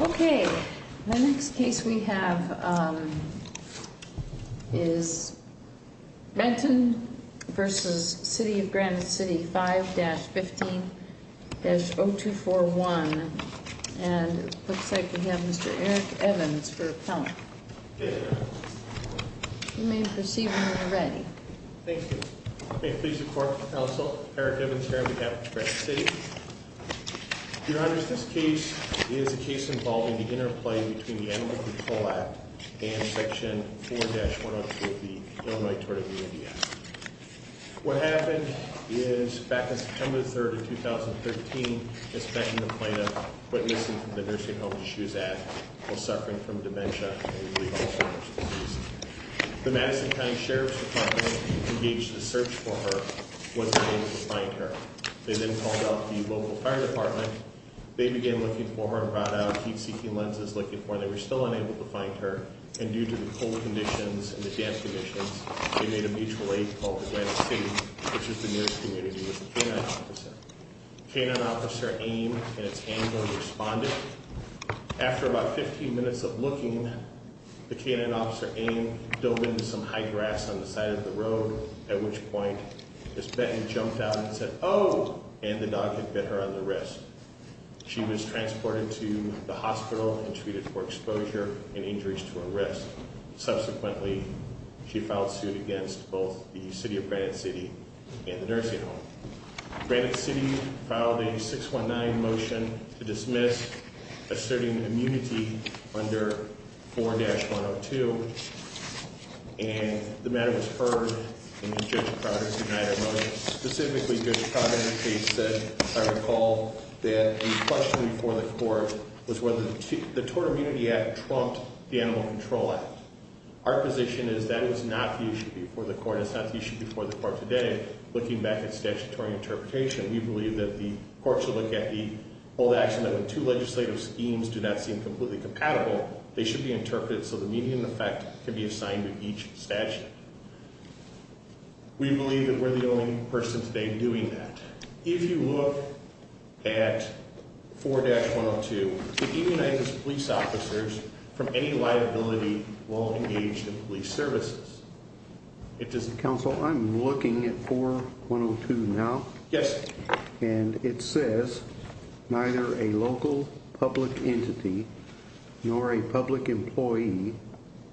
Okay, the next case we have is Benton v. City of Granite City, 5-15-0241, and it looks like we have Mr. Eric Evans for appellant. You may proceed when you're ready. Thank you. May it please the Court, Counsel. Eric Evans, here. We have Granite City. Your Honors, this case is a case involving the interplay between the Animal Control Act and Section 4-102 of the Illinois Tort of the Indian Act. What happened is, back on September 3rd of 2013, Ms. Benton complained of witnessing from the nursing home that she was at while suffering from dementia, a rehabilitation disease. The Madison County Sheriff's Department engaged in a search for her and was unable to find her. They then called out the local fire department. They began looking for her and brought out heat-seeking lenses looking for her. They were still unable to find her, and due to the cold conditions and the damp conditions, they made a mutual aid called the Granite City, which is the nearest community, with a K-9 officer. K-9 officer Aime, in its anger, responded. After about 15 minutes of looking, the K-9 officer Aime dove into some high grass on the side of the road, at which point Ms. Benton jumped out and said, and the dog had bit her on the wrist. She was transported to the hospital and treated for exposure and injuries to her wrist. Subsequently, she filed suit against both the City of Granite City and the nursing home. Granite City filed a 619 motion to dismiss asserting immunity under 4-102, and the matter was heard, and Judge Crowder denied a motion. Specifically, Judge Crowder in her case said, I recall, that a question before the court was whether the Tort Immunity Act trumped the Animal Control Act. Our position is that was not the issue before the court, and it's not the issue before the court today. Looking back at statutory interpretation, we believe that the courts will look at the old action that when two legislative schemes do not seem completely compatible, they should be interpreted so the median effect can be assigned to each statute. We believe that we're the only person today doing that. If you look at 4-102, it unites police officers from any liability while engaged in police services. Counsel, I'm looking at 4-102 now. Yes. And it says neither a local public entity nor a public employee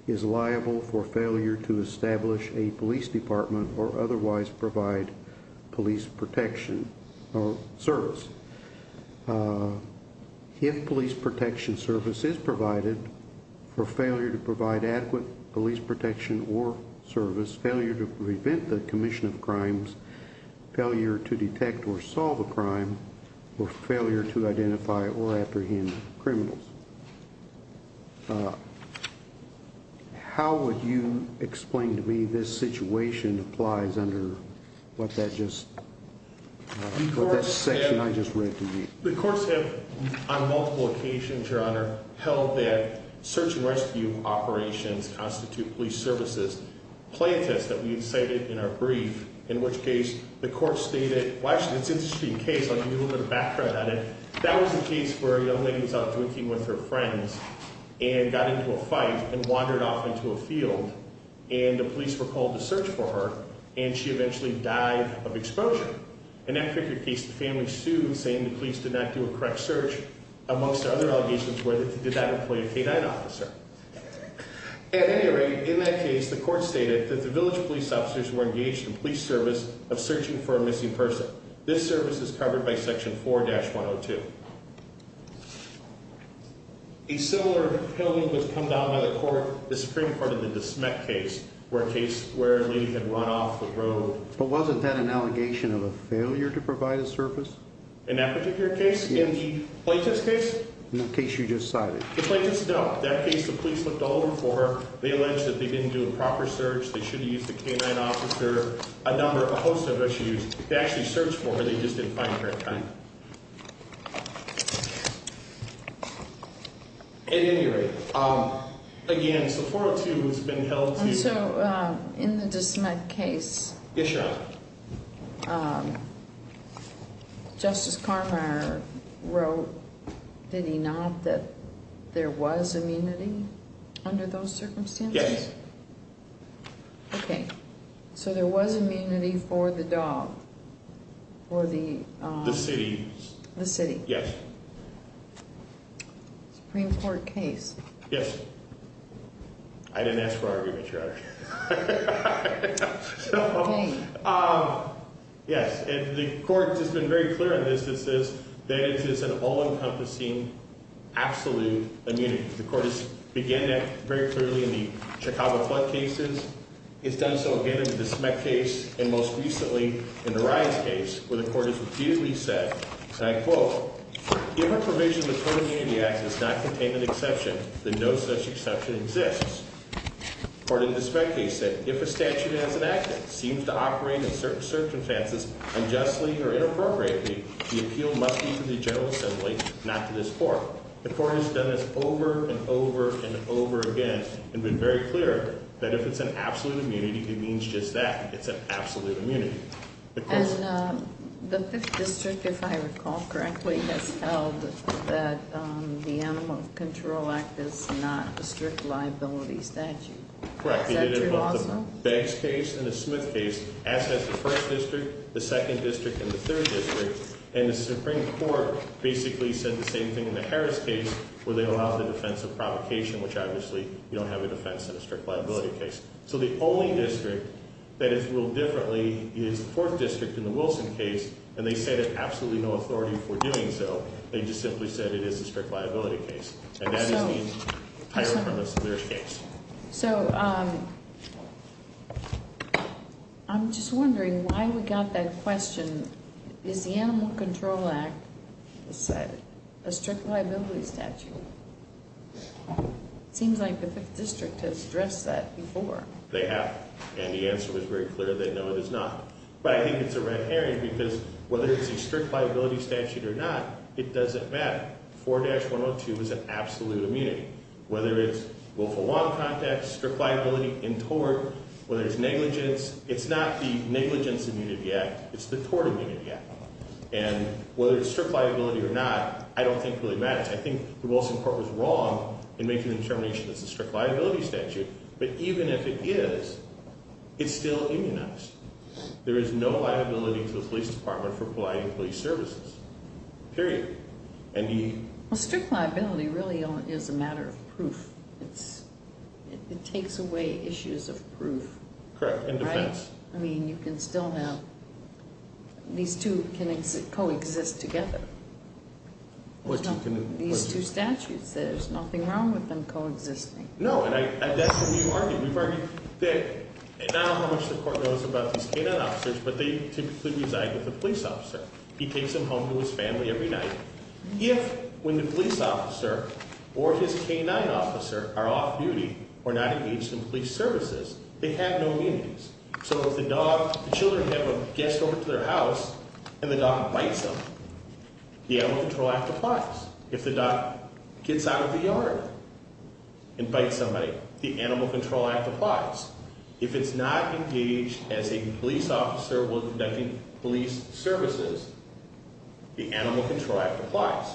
is liable for failure to establish a police department or otherwise provide police protection or service. If police protection service is provided for failure to provide adequate police protection or service, failure to prevent the commission of crimes, failure to detect or solve a crime, or failure to identify or apprehend criminals. How would you explain to me this situation applies under what that section I just read to you? The courts have on multiple occasions, Your Honor, held that search and rescue operations constitute police services. Plaintiffs that we cited in our brief, in which case the court stated, well, actually, it's an interesting case. I'll give you a little bit of background on it. That was the case where a young lady was out drinking with her friends and got into a fight and wandered off into a field. And the police were called to search for her, and she eventually died of exposure. In that particular case, the family sued, saying the police did not do a correct search. Amongst other allegations were that they did not employ a K-9 officer. At any rate, in that case, the court stated that the village police officers were engaged in police service of searching for a missing person. This service is covered by Section 4-102. A similar killing was come down by the Supreme Court in the DeSmet case, where a lady had run off the road. But wasn't that an allegation of a failure to provide a service? In that particular case? Yes. In the plaintiff's case? In the case you just cited. The plaintiffs don't. That case, the police looked all over for her. They alleged that they didn't do a proper search. They should have used a K-9 officer, a number, a host of issues. They actually searched for her. They just didn't find her in time. At any rate, again, Section 4-102 has been held to... And so, in the DeSmet case... Yes, Your Honor. Justice Karrmeier wrote, did he not, that there was immunity under those circumstances? Yes. Okay. So there was immunity for the dog, for the... The city. The city. Yes. Supreme Court case. Yes. I didn't ask for argument, Your Honor. So, yes. And the Court has been very clear on this. It says that it is an all-encompassing, absolute immunity. The Court has began that very clearly in the Chicago flood cases. It's done so again in the DeSmet case, and most recently in the Riots case, where the Court has repeatedly said, and I quote, If a provision of the Total Immunity Act does not contain an exception, then no such exception exists. According to DeSmet case, if a statute as enacted seems to operate in certain circumstances unjustly or inappropriately, the appeal must be to the General Assembly, not to this Court. The Court has done this over and over and over again and been very clear that if it's an absolute immunity, it means just that. It's an absolute immunity. And the 5th District, if I recall correctly, has held that the Animal Control Act is not a strict liability statute. Correct. Is that true also? It did in both the Beggs case and the Smith case, as has the 1st District, the 2nd District, and the 3rd District. And the Supreme Court basically said the same thing in the Harris case, where they allowed the defense of provocation, which obviously you don't have a defense in a strict liability case. So the only district that is ruled differently is the 4th District in the Wilson case, and they said they have absolutely no authority for doing so. They just simply said it is a strict liability case. And that is the higher premise of their case. So I'm just wondering why we got that question. Is the Animal Control Act a strict liability statute? It seems like the 5th District has addressed that before. They have. And the answer was very clear that no, it is not. But I think it's a red herring because whether it's a strict liability statute or not, it doesn't matter. 4-102 is an absolute immunity. Whether it's willful long contact, strict liability in tort, whether it's negligence, it's not the Negligence Immunity Act. It's the Tort Immunity Act. And whether it's strict liability or not, I don't think really matters. I think the Wilson court was wrong in making the determination that it's a strict liability statute. But even if it is, it's still immunized. There is no liability to the police department for police services. Period. Well, strict liability really is a matter of proof. It takes away issues of proof. Correct. And defense. I mean, you can still have, these two can coexist together. These two statutes, there's nothing wrong with them coexisting. No, and that's what we've argued. We've argued that I don't know how much the court knows about these K-9 officers, but they typically reside with the police officer. He takes them home to his family every night. If, when the police officer or his K-9 officer are off duty or not engaged in police services, they have no immunities. So if the dog, the children have a guest over to their house and the dog bites them, the Animal Control Act applies. If the dog gets out of the yard and bites somebody, the Animal Control Act applies. If it's not engaged as a police officer while conducting police services, the Animal Control Act applies.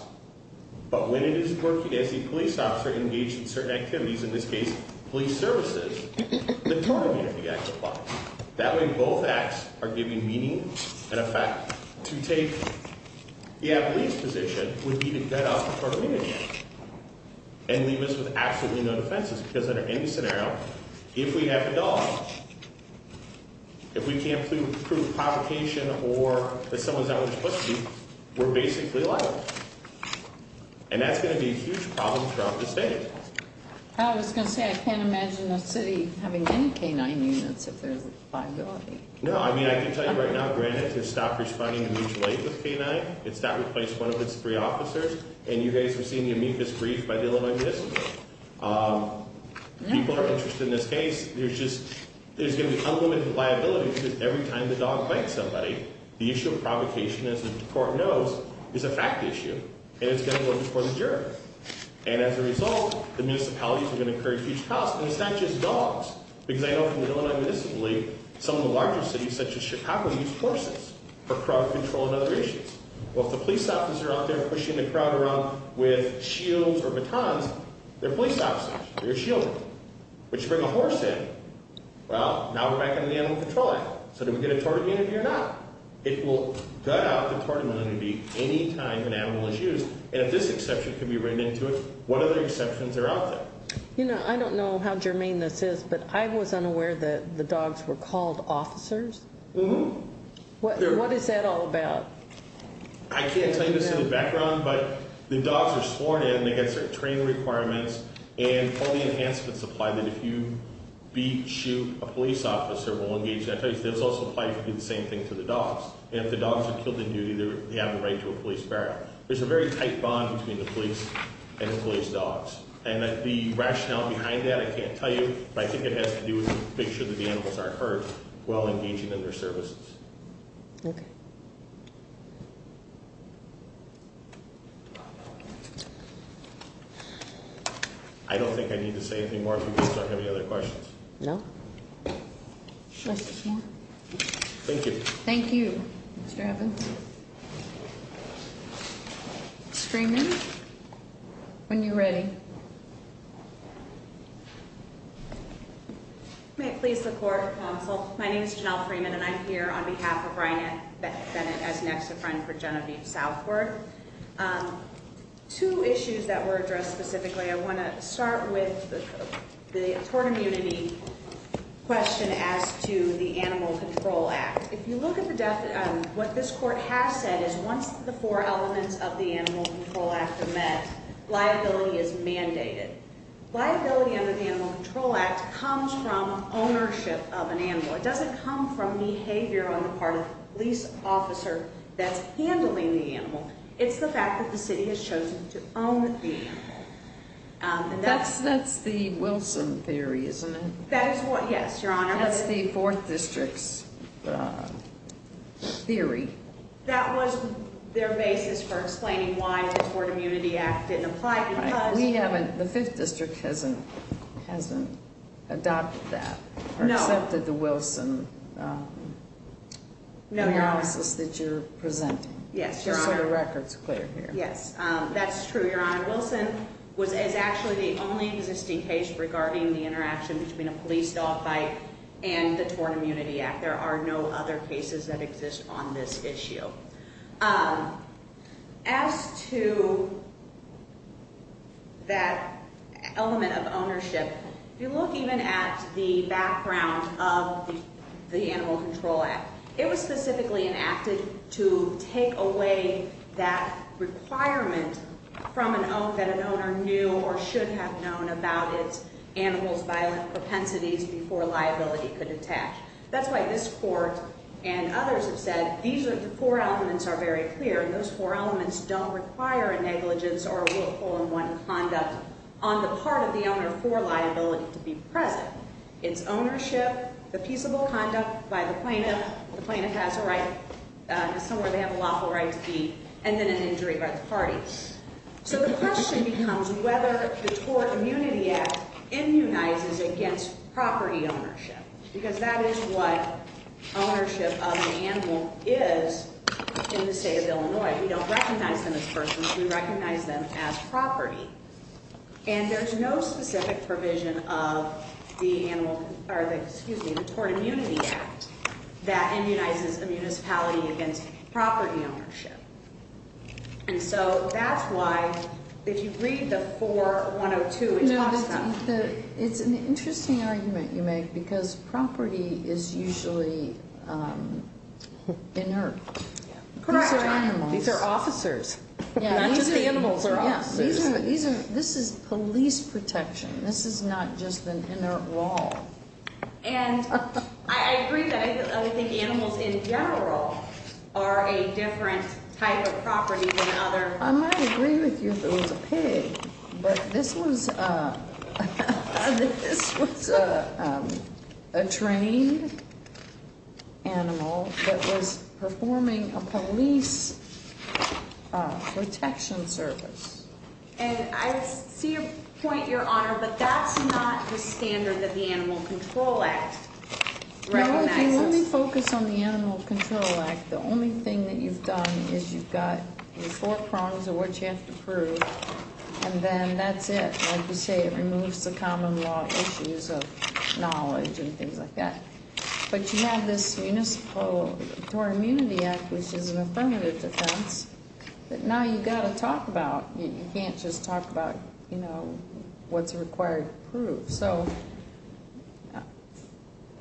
But when it is working as a police officer engaged in certain activities, in this case, police services, the tort immunity act applies. That way, both acts are giving meaning and effect to take, yeah, the police position would be to get out of the tort immunity act and leave us with absolutely no defenses. Because under any scenario, if we have a dog, if we can't prove provocation or that someone's out of their pursuit, we're basically liable. And that's going to be a huge problem throughout the state. I was going to say, I can't imagine a city having any K-9 units if there's liability. No, I mean, I can tell you right now, granted, they've stopped responding to mutual aid with K-9. It's not replaced one of its three officers. And you guys are seeing the amicus brief by the Illinois District Court. People are interested in this case. There's just, there's going to be unlimited liability because every time the dog bites somebody, the issue of provocation, as the court knows, is a fact issue. And it's going to go before the jury. And as a result, the municipalities are going to incur huge costs. And it's not just dogs. Because I know from the Illinois Municipal League, some of the larger cities, such as Chicago, use horses for crowd control and other issues. Well, if the police officers are out there pushing the crowd around with shields or batons, they're police officers. They're shielding. We should bring a horse in. Well, now we're back in the Animal Control Act. So do we get a tort immunity or not? It will gut out the tort immunity any time an animal is used. And if this exception can be written into it, what other exceptions are out there? You know, I don't know how germane this is, but I was unaware that the dogs were called officers. What is that all about? I can't tell you this in the background, but the dogs are sworn in. They've got certain training requirements. And all the enhancements apply that if you beat, shoot a police officer, we'll engage them. I tell you, this also applies to do the same thing to the dogs. And if the dogs are killed in duty, they have the right to a police burial. There's a very tight bond between the police and the police dogs. And the rationale behind that I can't tell you, but I think it has to do with making sure that the animals aren't hurt while engaging in their services. Okay. I don't think I need to say anything more if you guys don't have any other questions. No? Thank you. Thank you, Mr. Evans. Freeman, when you're ready. May it please the court, counsel. My name is Janelle Freeman, and I'm here on behalf of Ryan Bennett as an ex-friend for Genevieve Southward. Two issues that were addressed specifically, I want to start with the tort immunity question as to the Animal Control Act. If you look at what this court has said is once the four elements of the Animal Control Act are met, liability is mandated. Liability under the Animal Control Act comes from ownership of an animal. It doesn't come from behavior on the part of the police officer that's handling the animal. It's the fact that the city has chosen to own the animal. That's the Wilson theory, isn't it? That is what, yes, Your Honor. That's the 4th District's theory. That was their basis for explaining why the Tort Immunity Act didn't apply. Right. We haven't, the 5th District hasn't adopted that or accepted the Wilson analysis that you're presenting. Yes, Your Honor. Just so the record's clear here. Yes, that's true, Your Honor. Wilson was actually the only existing case regarding the interaction between a police dog fight and the Tort Immunity Act. There are no other cases that exist on this issue. As to that element of ownership, if you look even at the background of the Animal Control Act, it was specifically enacted to take away that requirement from an oath that an owner knew or should have known about its animal's violent propensities before liability could attach. That's why this Court and others have said these are, the four elements are very clear, and those four elements don't require a negligence or a willful and wanted conduct on the part of the owner for liability to be present. It's ownership, the peaceable conduct by the plaintiff, the plaintiff has a right, somewhere they have a lawful right to be, and then an injury by the parties. So the question becomes whether the Tort Immunity Act immunizes against property ownership, because that is what ownership of an animal is in the state of Illinois. We don't recognize them as persons. We recognize them as property. And there's no specific provision of the Tort Immunity Act that immunizes a municipality against property ownership. And so that's why, if you read the 4102, it talks about- No, it's an interesting argument you make, because property is usually inert. Correct. These are animals. These are officers. Not just animals or officers. These are, this is police protection. This is not just an inert wall. And I agree that I think animals in general are a different type of property than other- I might agree with you if it was a pig, but this was a trained animal that was performing a police protection service. And I see your point, Your Honor, but that's not the standard that the Animal Control Act recognizes. Let me focus on the Animal Control Act. The only thing that you've done is you've got the four prongs of what you have to prove, and then that's it. Like you say, it removes the common law issues of knowledge and things like that. But you have this Municipal Tort Immunity Act, which is an affirmative defense that now you've got to talk about. You can't just talk about, you know, what's required to prove. So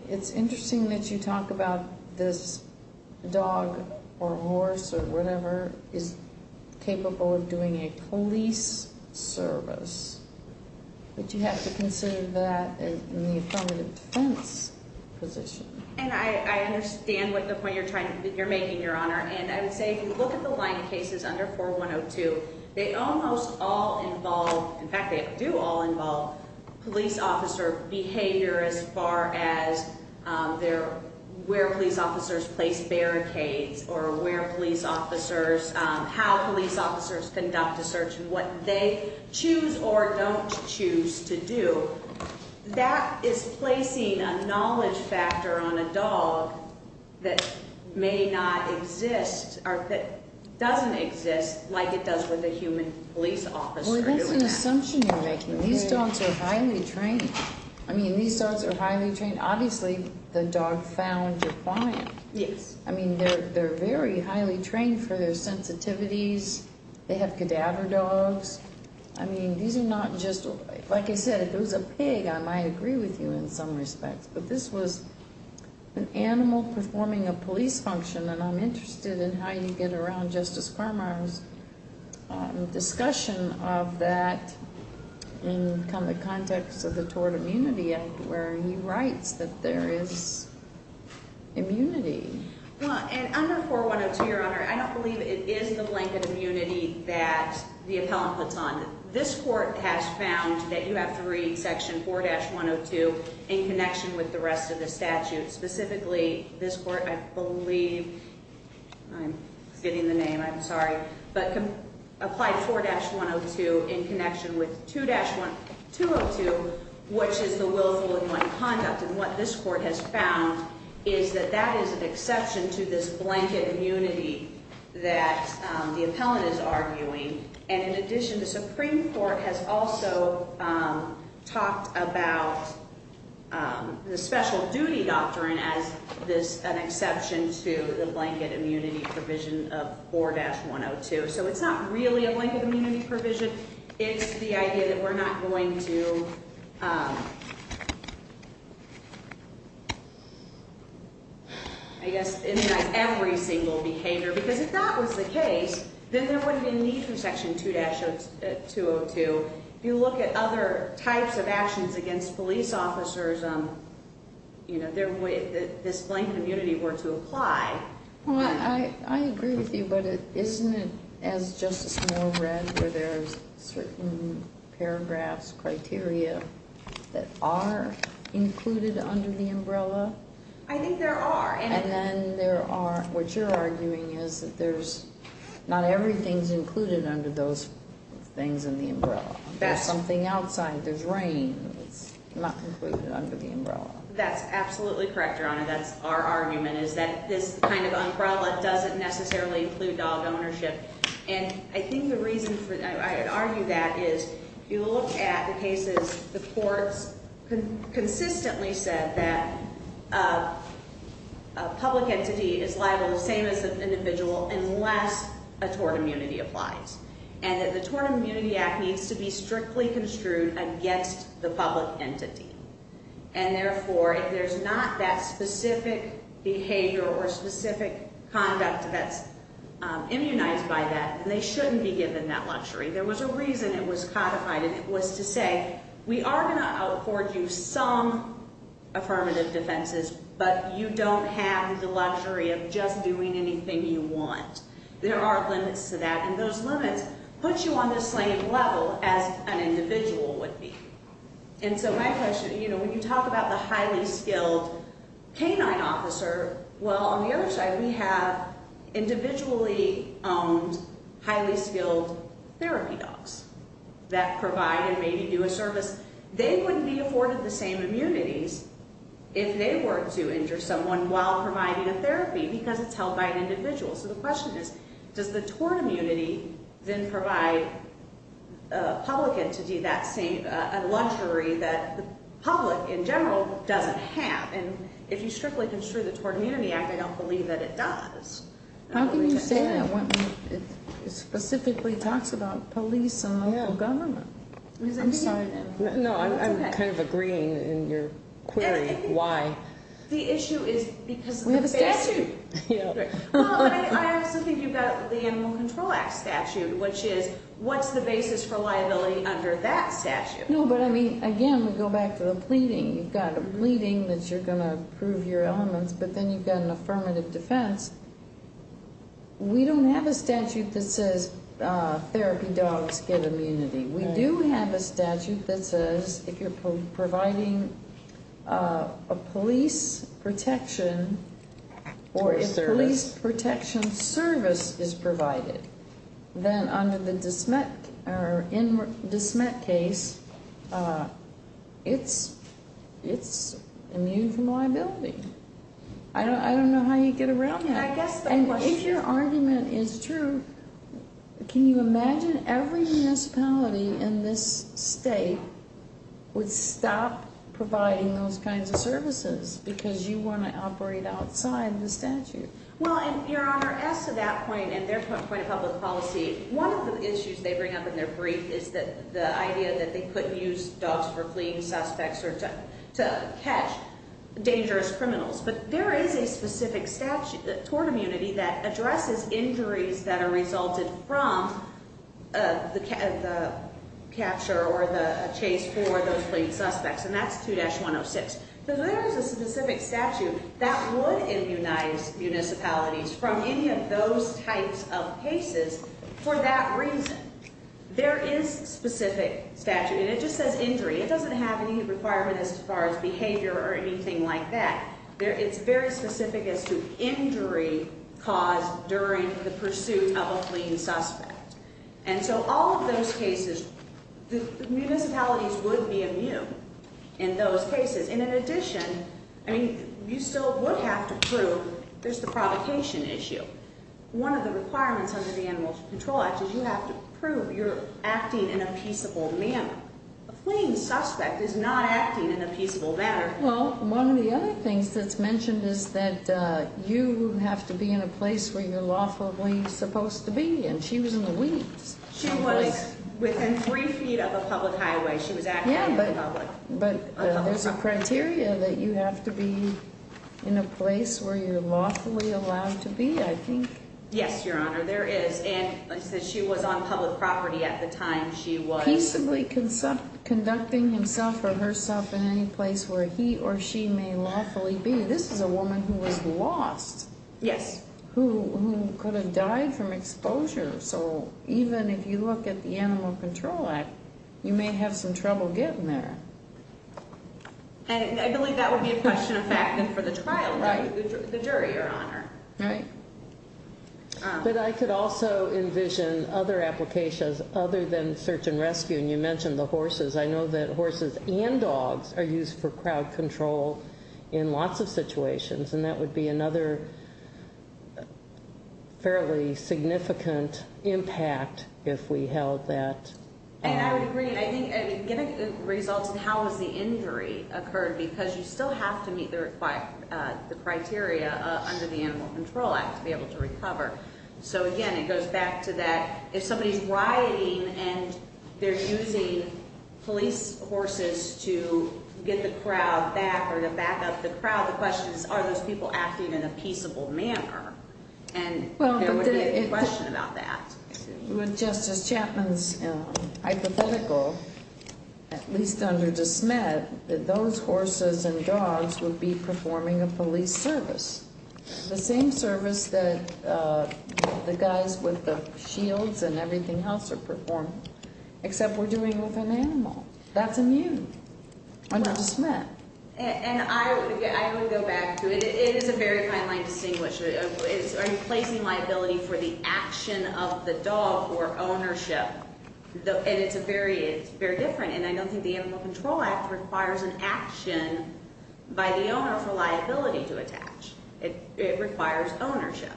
it's interesting that you talk about this dog or horse or whatever is capable of doing a police service, but you have to consider that in the affirmative defense position. And I understand the point you're making, Your Honor, and I would say if you look at the line of cases under 4102, they almost all involve, in fact, they do all involve police officer behavior as far as where police officers place barricades or where police officers, how police officers conduct a search and what they choose or don't choose to do. That is placing a knowledge factor on a dog that may not exist or that doesn't exist like it does with a human police officer doing that. Well, that's an assumption you're making. These dogs are highly trained. I mean, these dogs are highly trained. Obviously, the dog found your client. Yes. I mean, they're very highly trained for their sensitivities. They have cadaver dogs. I mean, these are not just, like I said, if it was a pig, I might agree with you in some respects, but this was an animal performing a police function, and I'm interested in how you get around Justice Cormier's discussion of that in kind of the context of the Tort Immunity Act where he writes that there is immunity. Well, and under 4102, Your Honor, I don't believe it is the blanket immunity that the appellant puts on. This court has found that you have to read Section 4-102 in connection with the rest of the statute. Specifically, this court, I believe, I'm forgetting the name, I'm sorry, but applied 4-102 in connection with 2-202, which is the willful and unkind conduct. And what this court has found is that that is an exception to this blanket immunity that the appellant is arguing. And in addition, the Supreme Court has also talked about the special duty doctrine as an exception to the blanket immunity provision of 4-102. So it's not really a blanket immunity provision. It's the idea that we're not going to, I guess, immunize every single behavior, because if that was the case, then there wouldn't be a need for Section 2-202. If you look at other types of actions against police officers, you know, this blanket immunity were to apply. Well, I agree with you, but isn't it, as Justice Moore read, where there's certain paragraphs, criteria that are included under the umbrella? I think there are. And then there are, what you're arguing is that there's, not everything's included under those things in the umbrella. There's something outside, there's rain that's not included under the umbrella. That's absolutely correct, Your Honor. That's our argument, is that this kind of umbrella doesn't necessarily include dog ownership. And I think the reason for that, I would argue that, is you look at the cases, the courts consistently said that a public entity is liable, the same as an individual, unless a tort immunity applies. And that the Tort Immunity Act needs to be strictly construed against the public entity. And therefore, if there's not that specific behavior or specific conduct that's immunized by that, then they shouldn't be given that luxury. There was a reason it was codified, and it was to say, we are going to afford you some affirmative defenses, but you don't have the luxury of just doing anything you want. There are limits to that, and those limits put you on the same level as an individual would be. And so my question, you know, when you talk about the highly skilled canine officer, well, on the other side, we have individually owned, highly skilled therapy dogs that provide and maybe do a service. They wouldn't be afforded the same immunities if they were to injure someone while providing a therapy, because it's held by an individual. So the question is, does the tort immunity then provide a public entity that luxury that the public in general doesn't have? And if you strictly construe the Tort Immunity Act, I don't believe that it does. How can you say that when it specifically talks about police and local government? I'm sorry. No, I'm kind of agreeing in your query why. The issue is because of the statute. I also think you've got the Animal Control Act statute, which is, what's the basis for liability under that statute? No, but I mean, again, we go back to the pleading. You've got a pleading that you're going to prove your elements, but then you've got an affirmative defense. We don't have a statute that says therapy dogs get immunity. We do have a statute that says if you're providing a police protection or a police protection service is provided, then under the dismet case, it's immune from liability. I don't know how you get around that. If your argument is true, can you imagine every municipality in this state would stop providing those kinds of services because you want to operate outside the statute? Well, Your Honor, as to that point and their point of public policy, one of the issues they bring up in their brief is the idea that they couldn't use dogs for fleeing suspects or to catch dangerous criminals. But there is a specific statute, tort immunity, that addresses injuries that are resulted from the capture or the chase for those fleeing suspects, and that's 2-106. So there is a specific statute that would immunize municipalities from any of those types of cases for that reason. There is specific statute, and it just says injury. It doesn't have any requirement as far as behavior or anything like that. It's very specific as to injury caused during the pursuit of a fleeing suspect. And so all of those cases, municipalities would be immune in those cases. And in addition, I mean, you still would have to prove there's the provocation issue. One of the requirements under the Animal Control Act is you have to prove you're acting in a peaceable manner. A fleeing suspect is not acting in a peaceable manner. Well, one of the other things that's mentioned is that you have to be in a place where you're lawfully supposed to be, and she was in the weeds. She was within three feet of a public highway. She was acting in public. Yeah, but there's a criteria that you have to be in a place where you're lawfully allowed to be, I think. Yes, Your Honor, there is. And like I said, she was on public property at the time she was. Peaceably conducting himself or herself in any place where he or she may lawfully be. This is a woman who was lost. Yes. Who could have died from exposure. So even if you look at the Animal Control Act, you may have some trouble getting there. And I believe that would be a question of fact then for the trial, the jury, Your Honor. Right. But I could also envision other applications other than search and rescue, and you mentioned the horses. I know that horses and dogs are used for crowd control in lots of situations, and that would be another fairly significant impact if we held that. And I would agree. I think, again, it results in how has the injury occurred because you still have to meet the criteria under the Animal Control Act to be able to recover. So, again, it goes back to that if somebody's rioting and they're using police horses to get the crowd back or to back up the crowd, the question is, are those people acting in a peaceable manner? And there would be a question about that. Justice Chapman's hypothetical, at least under DeSmet, that those horses and dogs would be performing a police service, the same service that the guys with the shields and everything else are performing, except we're doing it with an animal. That's immune under DeSmet. And I would go back to it. It is a very fine line to distinguish. Are you placing liability for the action of the dog or ownership? And it's very different, and I don't think the Animal Control Act requires an action by the owner for liability to attach. It requires ownership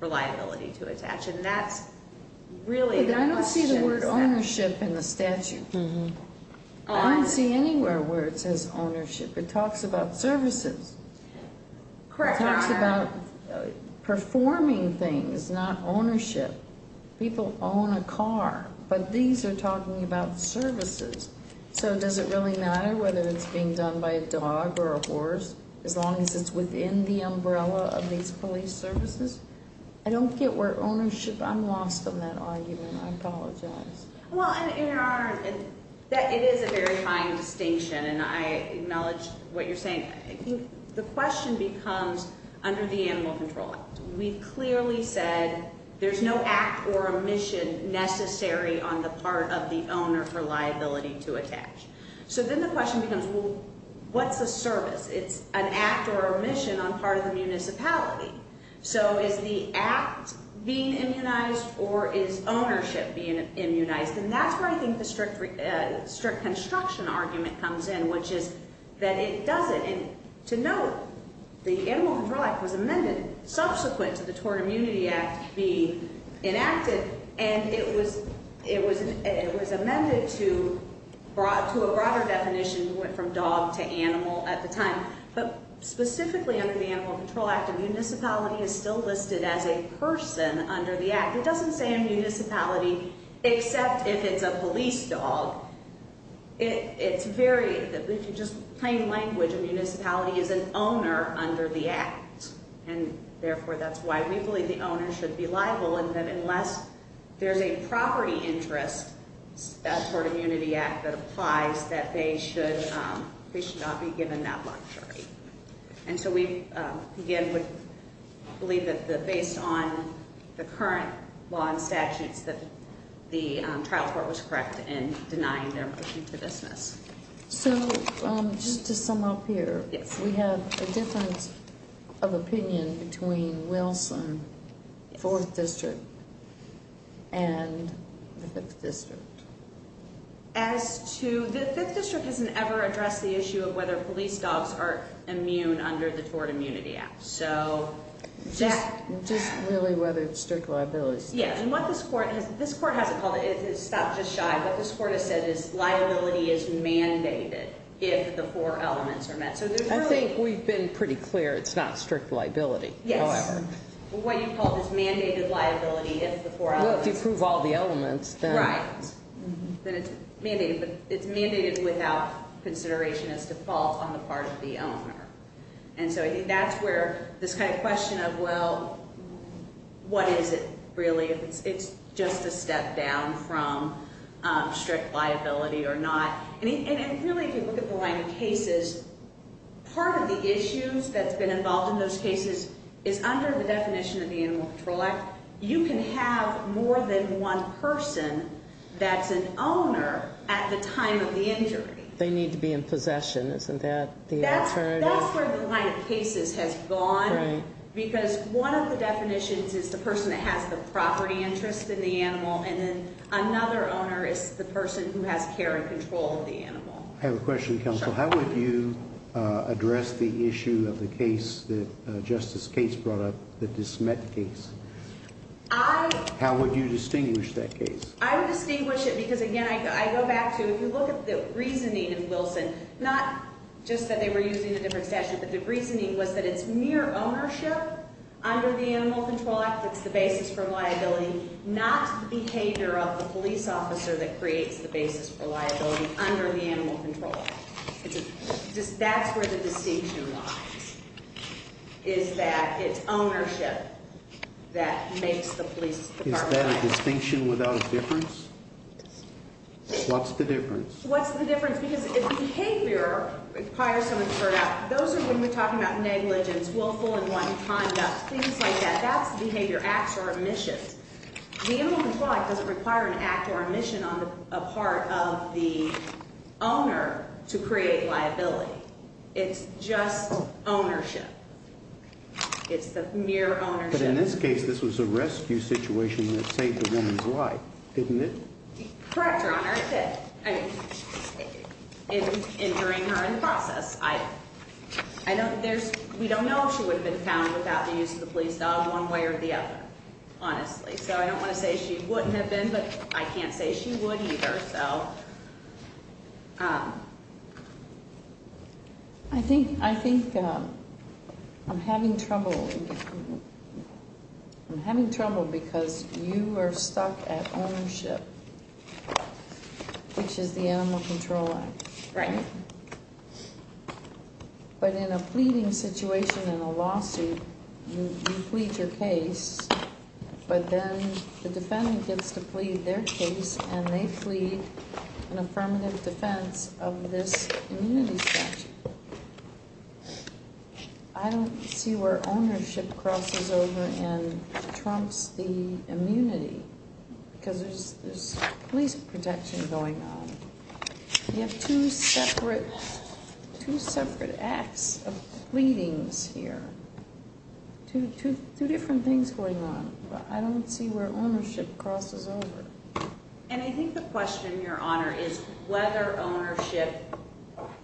for liability to attach, and that's really the question. I don't see the word ownership in the statute. I don't see anywhere where it says ownership. It talks about services. It talks about performing things, not ownership. People own a car, but these are talking about services. So does it really matter whether it's being done by a dog or a horse, as long as it's within the umbrella of these police services? I don't get where ownership, I'm lost on that argument. I apologize. Well, it is a very fine distinction, and I acknowledge what you're saying. The question becomes, under the Animal Control Act, we've clearly said there's no act or omission necessary on the part of the owner for liability to attach. So then the question becomes, well, what's a service? It's an act or omission on part of the municipality. So is the act being immunized or is ownership being immunized? And that's where I think the strict construction argument comes in, which is that it doesn't. And to note, the Animal Control Act was amended subsequent to the Tort Immunity Act being enacted, and it was amended to a broader definition. It went from dog to animal at the time. But specifically under the Animal Control Act, a municipality is still listed as a person under the act. It doesn't say a municipality except if it's a police dog. It's very, if you just plain language, a municipality is an owner under the act. And therefore, that's why we believe the owner should be liable, and that unless there's a property interest, a Tort Immunity Act that applies, that they should not be given that luxury. And so we, again, would believe that based on the current law and statutes, that the trial court was correct in denying their motion to dismiss. Yes. So just to sum up here, we have a difference of opinion between Wilson, 4th District, and the 5th District. As to, the 5th District hasn't ever addressed the issue of whether police dogs are immune under the Tort Immunity Act. Just really whether it's strict liability. Yes. And what this court has, this court hasn't called it, it stopped just shy, what this court has said is liability is mandated if the four elements are met. So there's really- I think we've been pretty clear it's not strict liability. Yes. However. What you've called is mandated liability if the four elements- Well, if you prove all the elements, then- Right. Then it's mandated, but it's mandated without consideration as default on the part of the owner. And so I think that's where this kind of question of, well, what is it really, if it's just a step down from strict liability or not. And really, if you look at the line of cases, part of the issues that's been involved in those cases is under the definition of the Animal Control Act, you can have more than one person that's an owner at the time of the injury. They need to be in possession, isn't that the alternative? That's where the line of cases has gone. Right. Because one of the definitions is the person that has the property interest in the animal, and then another owner is the person who has care and control of the animal. I have a question, counsel. Sure. How would you address the issue of the case that Justice Cates brought up, the dismet case? I- How would you distinguish that case? I would distinguish it because, again, I go back to, if you look at the reasoning in Wilson, not just that they were using a different statute, but the reasoning was that it's mere ownership under the Animal Control Act, it's the basis for liability, not the behavior of the police officer that creates the basis for liability under the Animal Control Act. That's where the distinction lies, is that it's ownership that makes the police department- Is that a distinction without a difference? Yes. What's the difference? What's the difference? Because if behavior requires someone to turn out, those are when we're talking about negligence, willful and wanton conduct, things like that. That's behavior, acts or omissions. The Animal Control Act doesn't require an act or omission on a part of the owner to create liability. It's just ownership. It's the mere ownership. But in this case, this was a rescue situation that saved a woman's life, didn't it? Correct, Your Honor, it did. And during her in the process. We don't know if she would have been found without the use of the police dog one way or the other, honestly. So I don't want to say she wouldn't have been, but I can't say she would either. I think I'm having trouble. I'm having trouble because you are stuck at ownership. Which is the Animal Control Act. Right. But in a pleading situation in a lawsuit, you plead your case, but then the defendant gets to plead their case and they plead an affirmative defense of this immunity statute. I don't see where ownership crosses over and trumps the immunity. Because there's police protection going on. You have two separate acts of pleadings here. Two different things going on. But I don't see where ownership crosses over. And I think the question, Your Honor, is whether ownership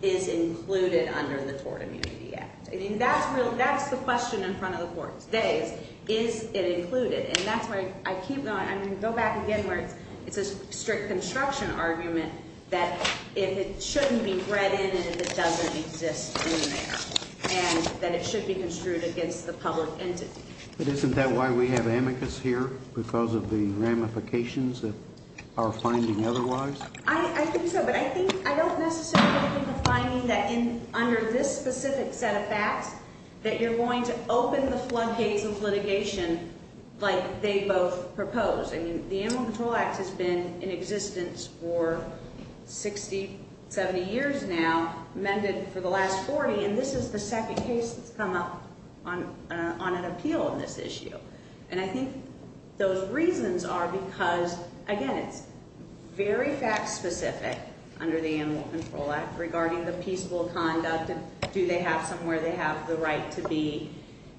is included under the Tort Immunity Act. That's the question in front of the court today. Is it included? And that's why I keep going, I'm going to go back again where it's a strict construction argument that if it shouldn't be read in and if it doesn't exist in there. And that it should be construed against the public entity. But isn't that why we have amicus here? Because of the ramifications of our finding otherwise? I think so. But I think, I don't necessarily think of a finding that under this specific set of facts that you're going to open the floodgates of litigation like they both propose. I mean, the Animal Control Act has been in existence for 60, 70 years now, amended for the last 40. And this is the second case that's come up on an appeal on this issue. And I think those reasons are because, again, it's very fact specific under the Animal Control Act regarding the peaceful conduct and do they have somewhere they have the right to be.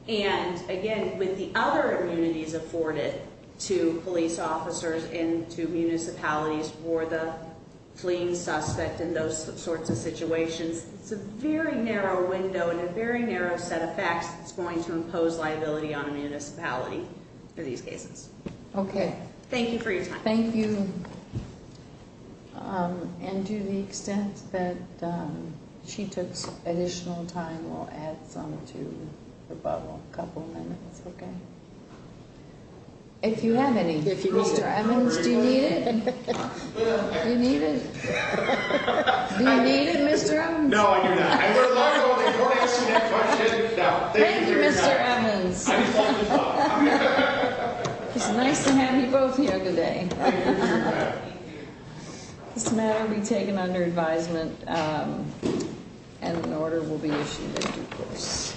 And, again, with the other immunities afforded to police officers and to municipalities for the fleeing suspect and those sorts of situations, it's a very narrow window and a very narrow set of facts that's going to impose liability on a municipality for these cases. Okay. Thank you for your time. Thank you. And to the extent that she took additional time, we'll add some to the bubble. A couple minutes, okay? If you have any. Mr. Evans, do you need it? Do you need it? Do you need it, Mr. Evans? Thank you, Mr. Evans. It's nice to have you both here today. This matter will be taken under advisement and an order will be issued in due course.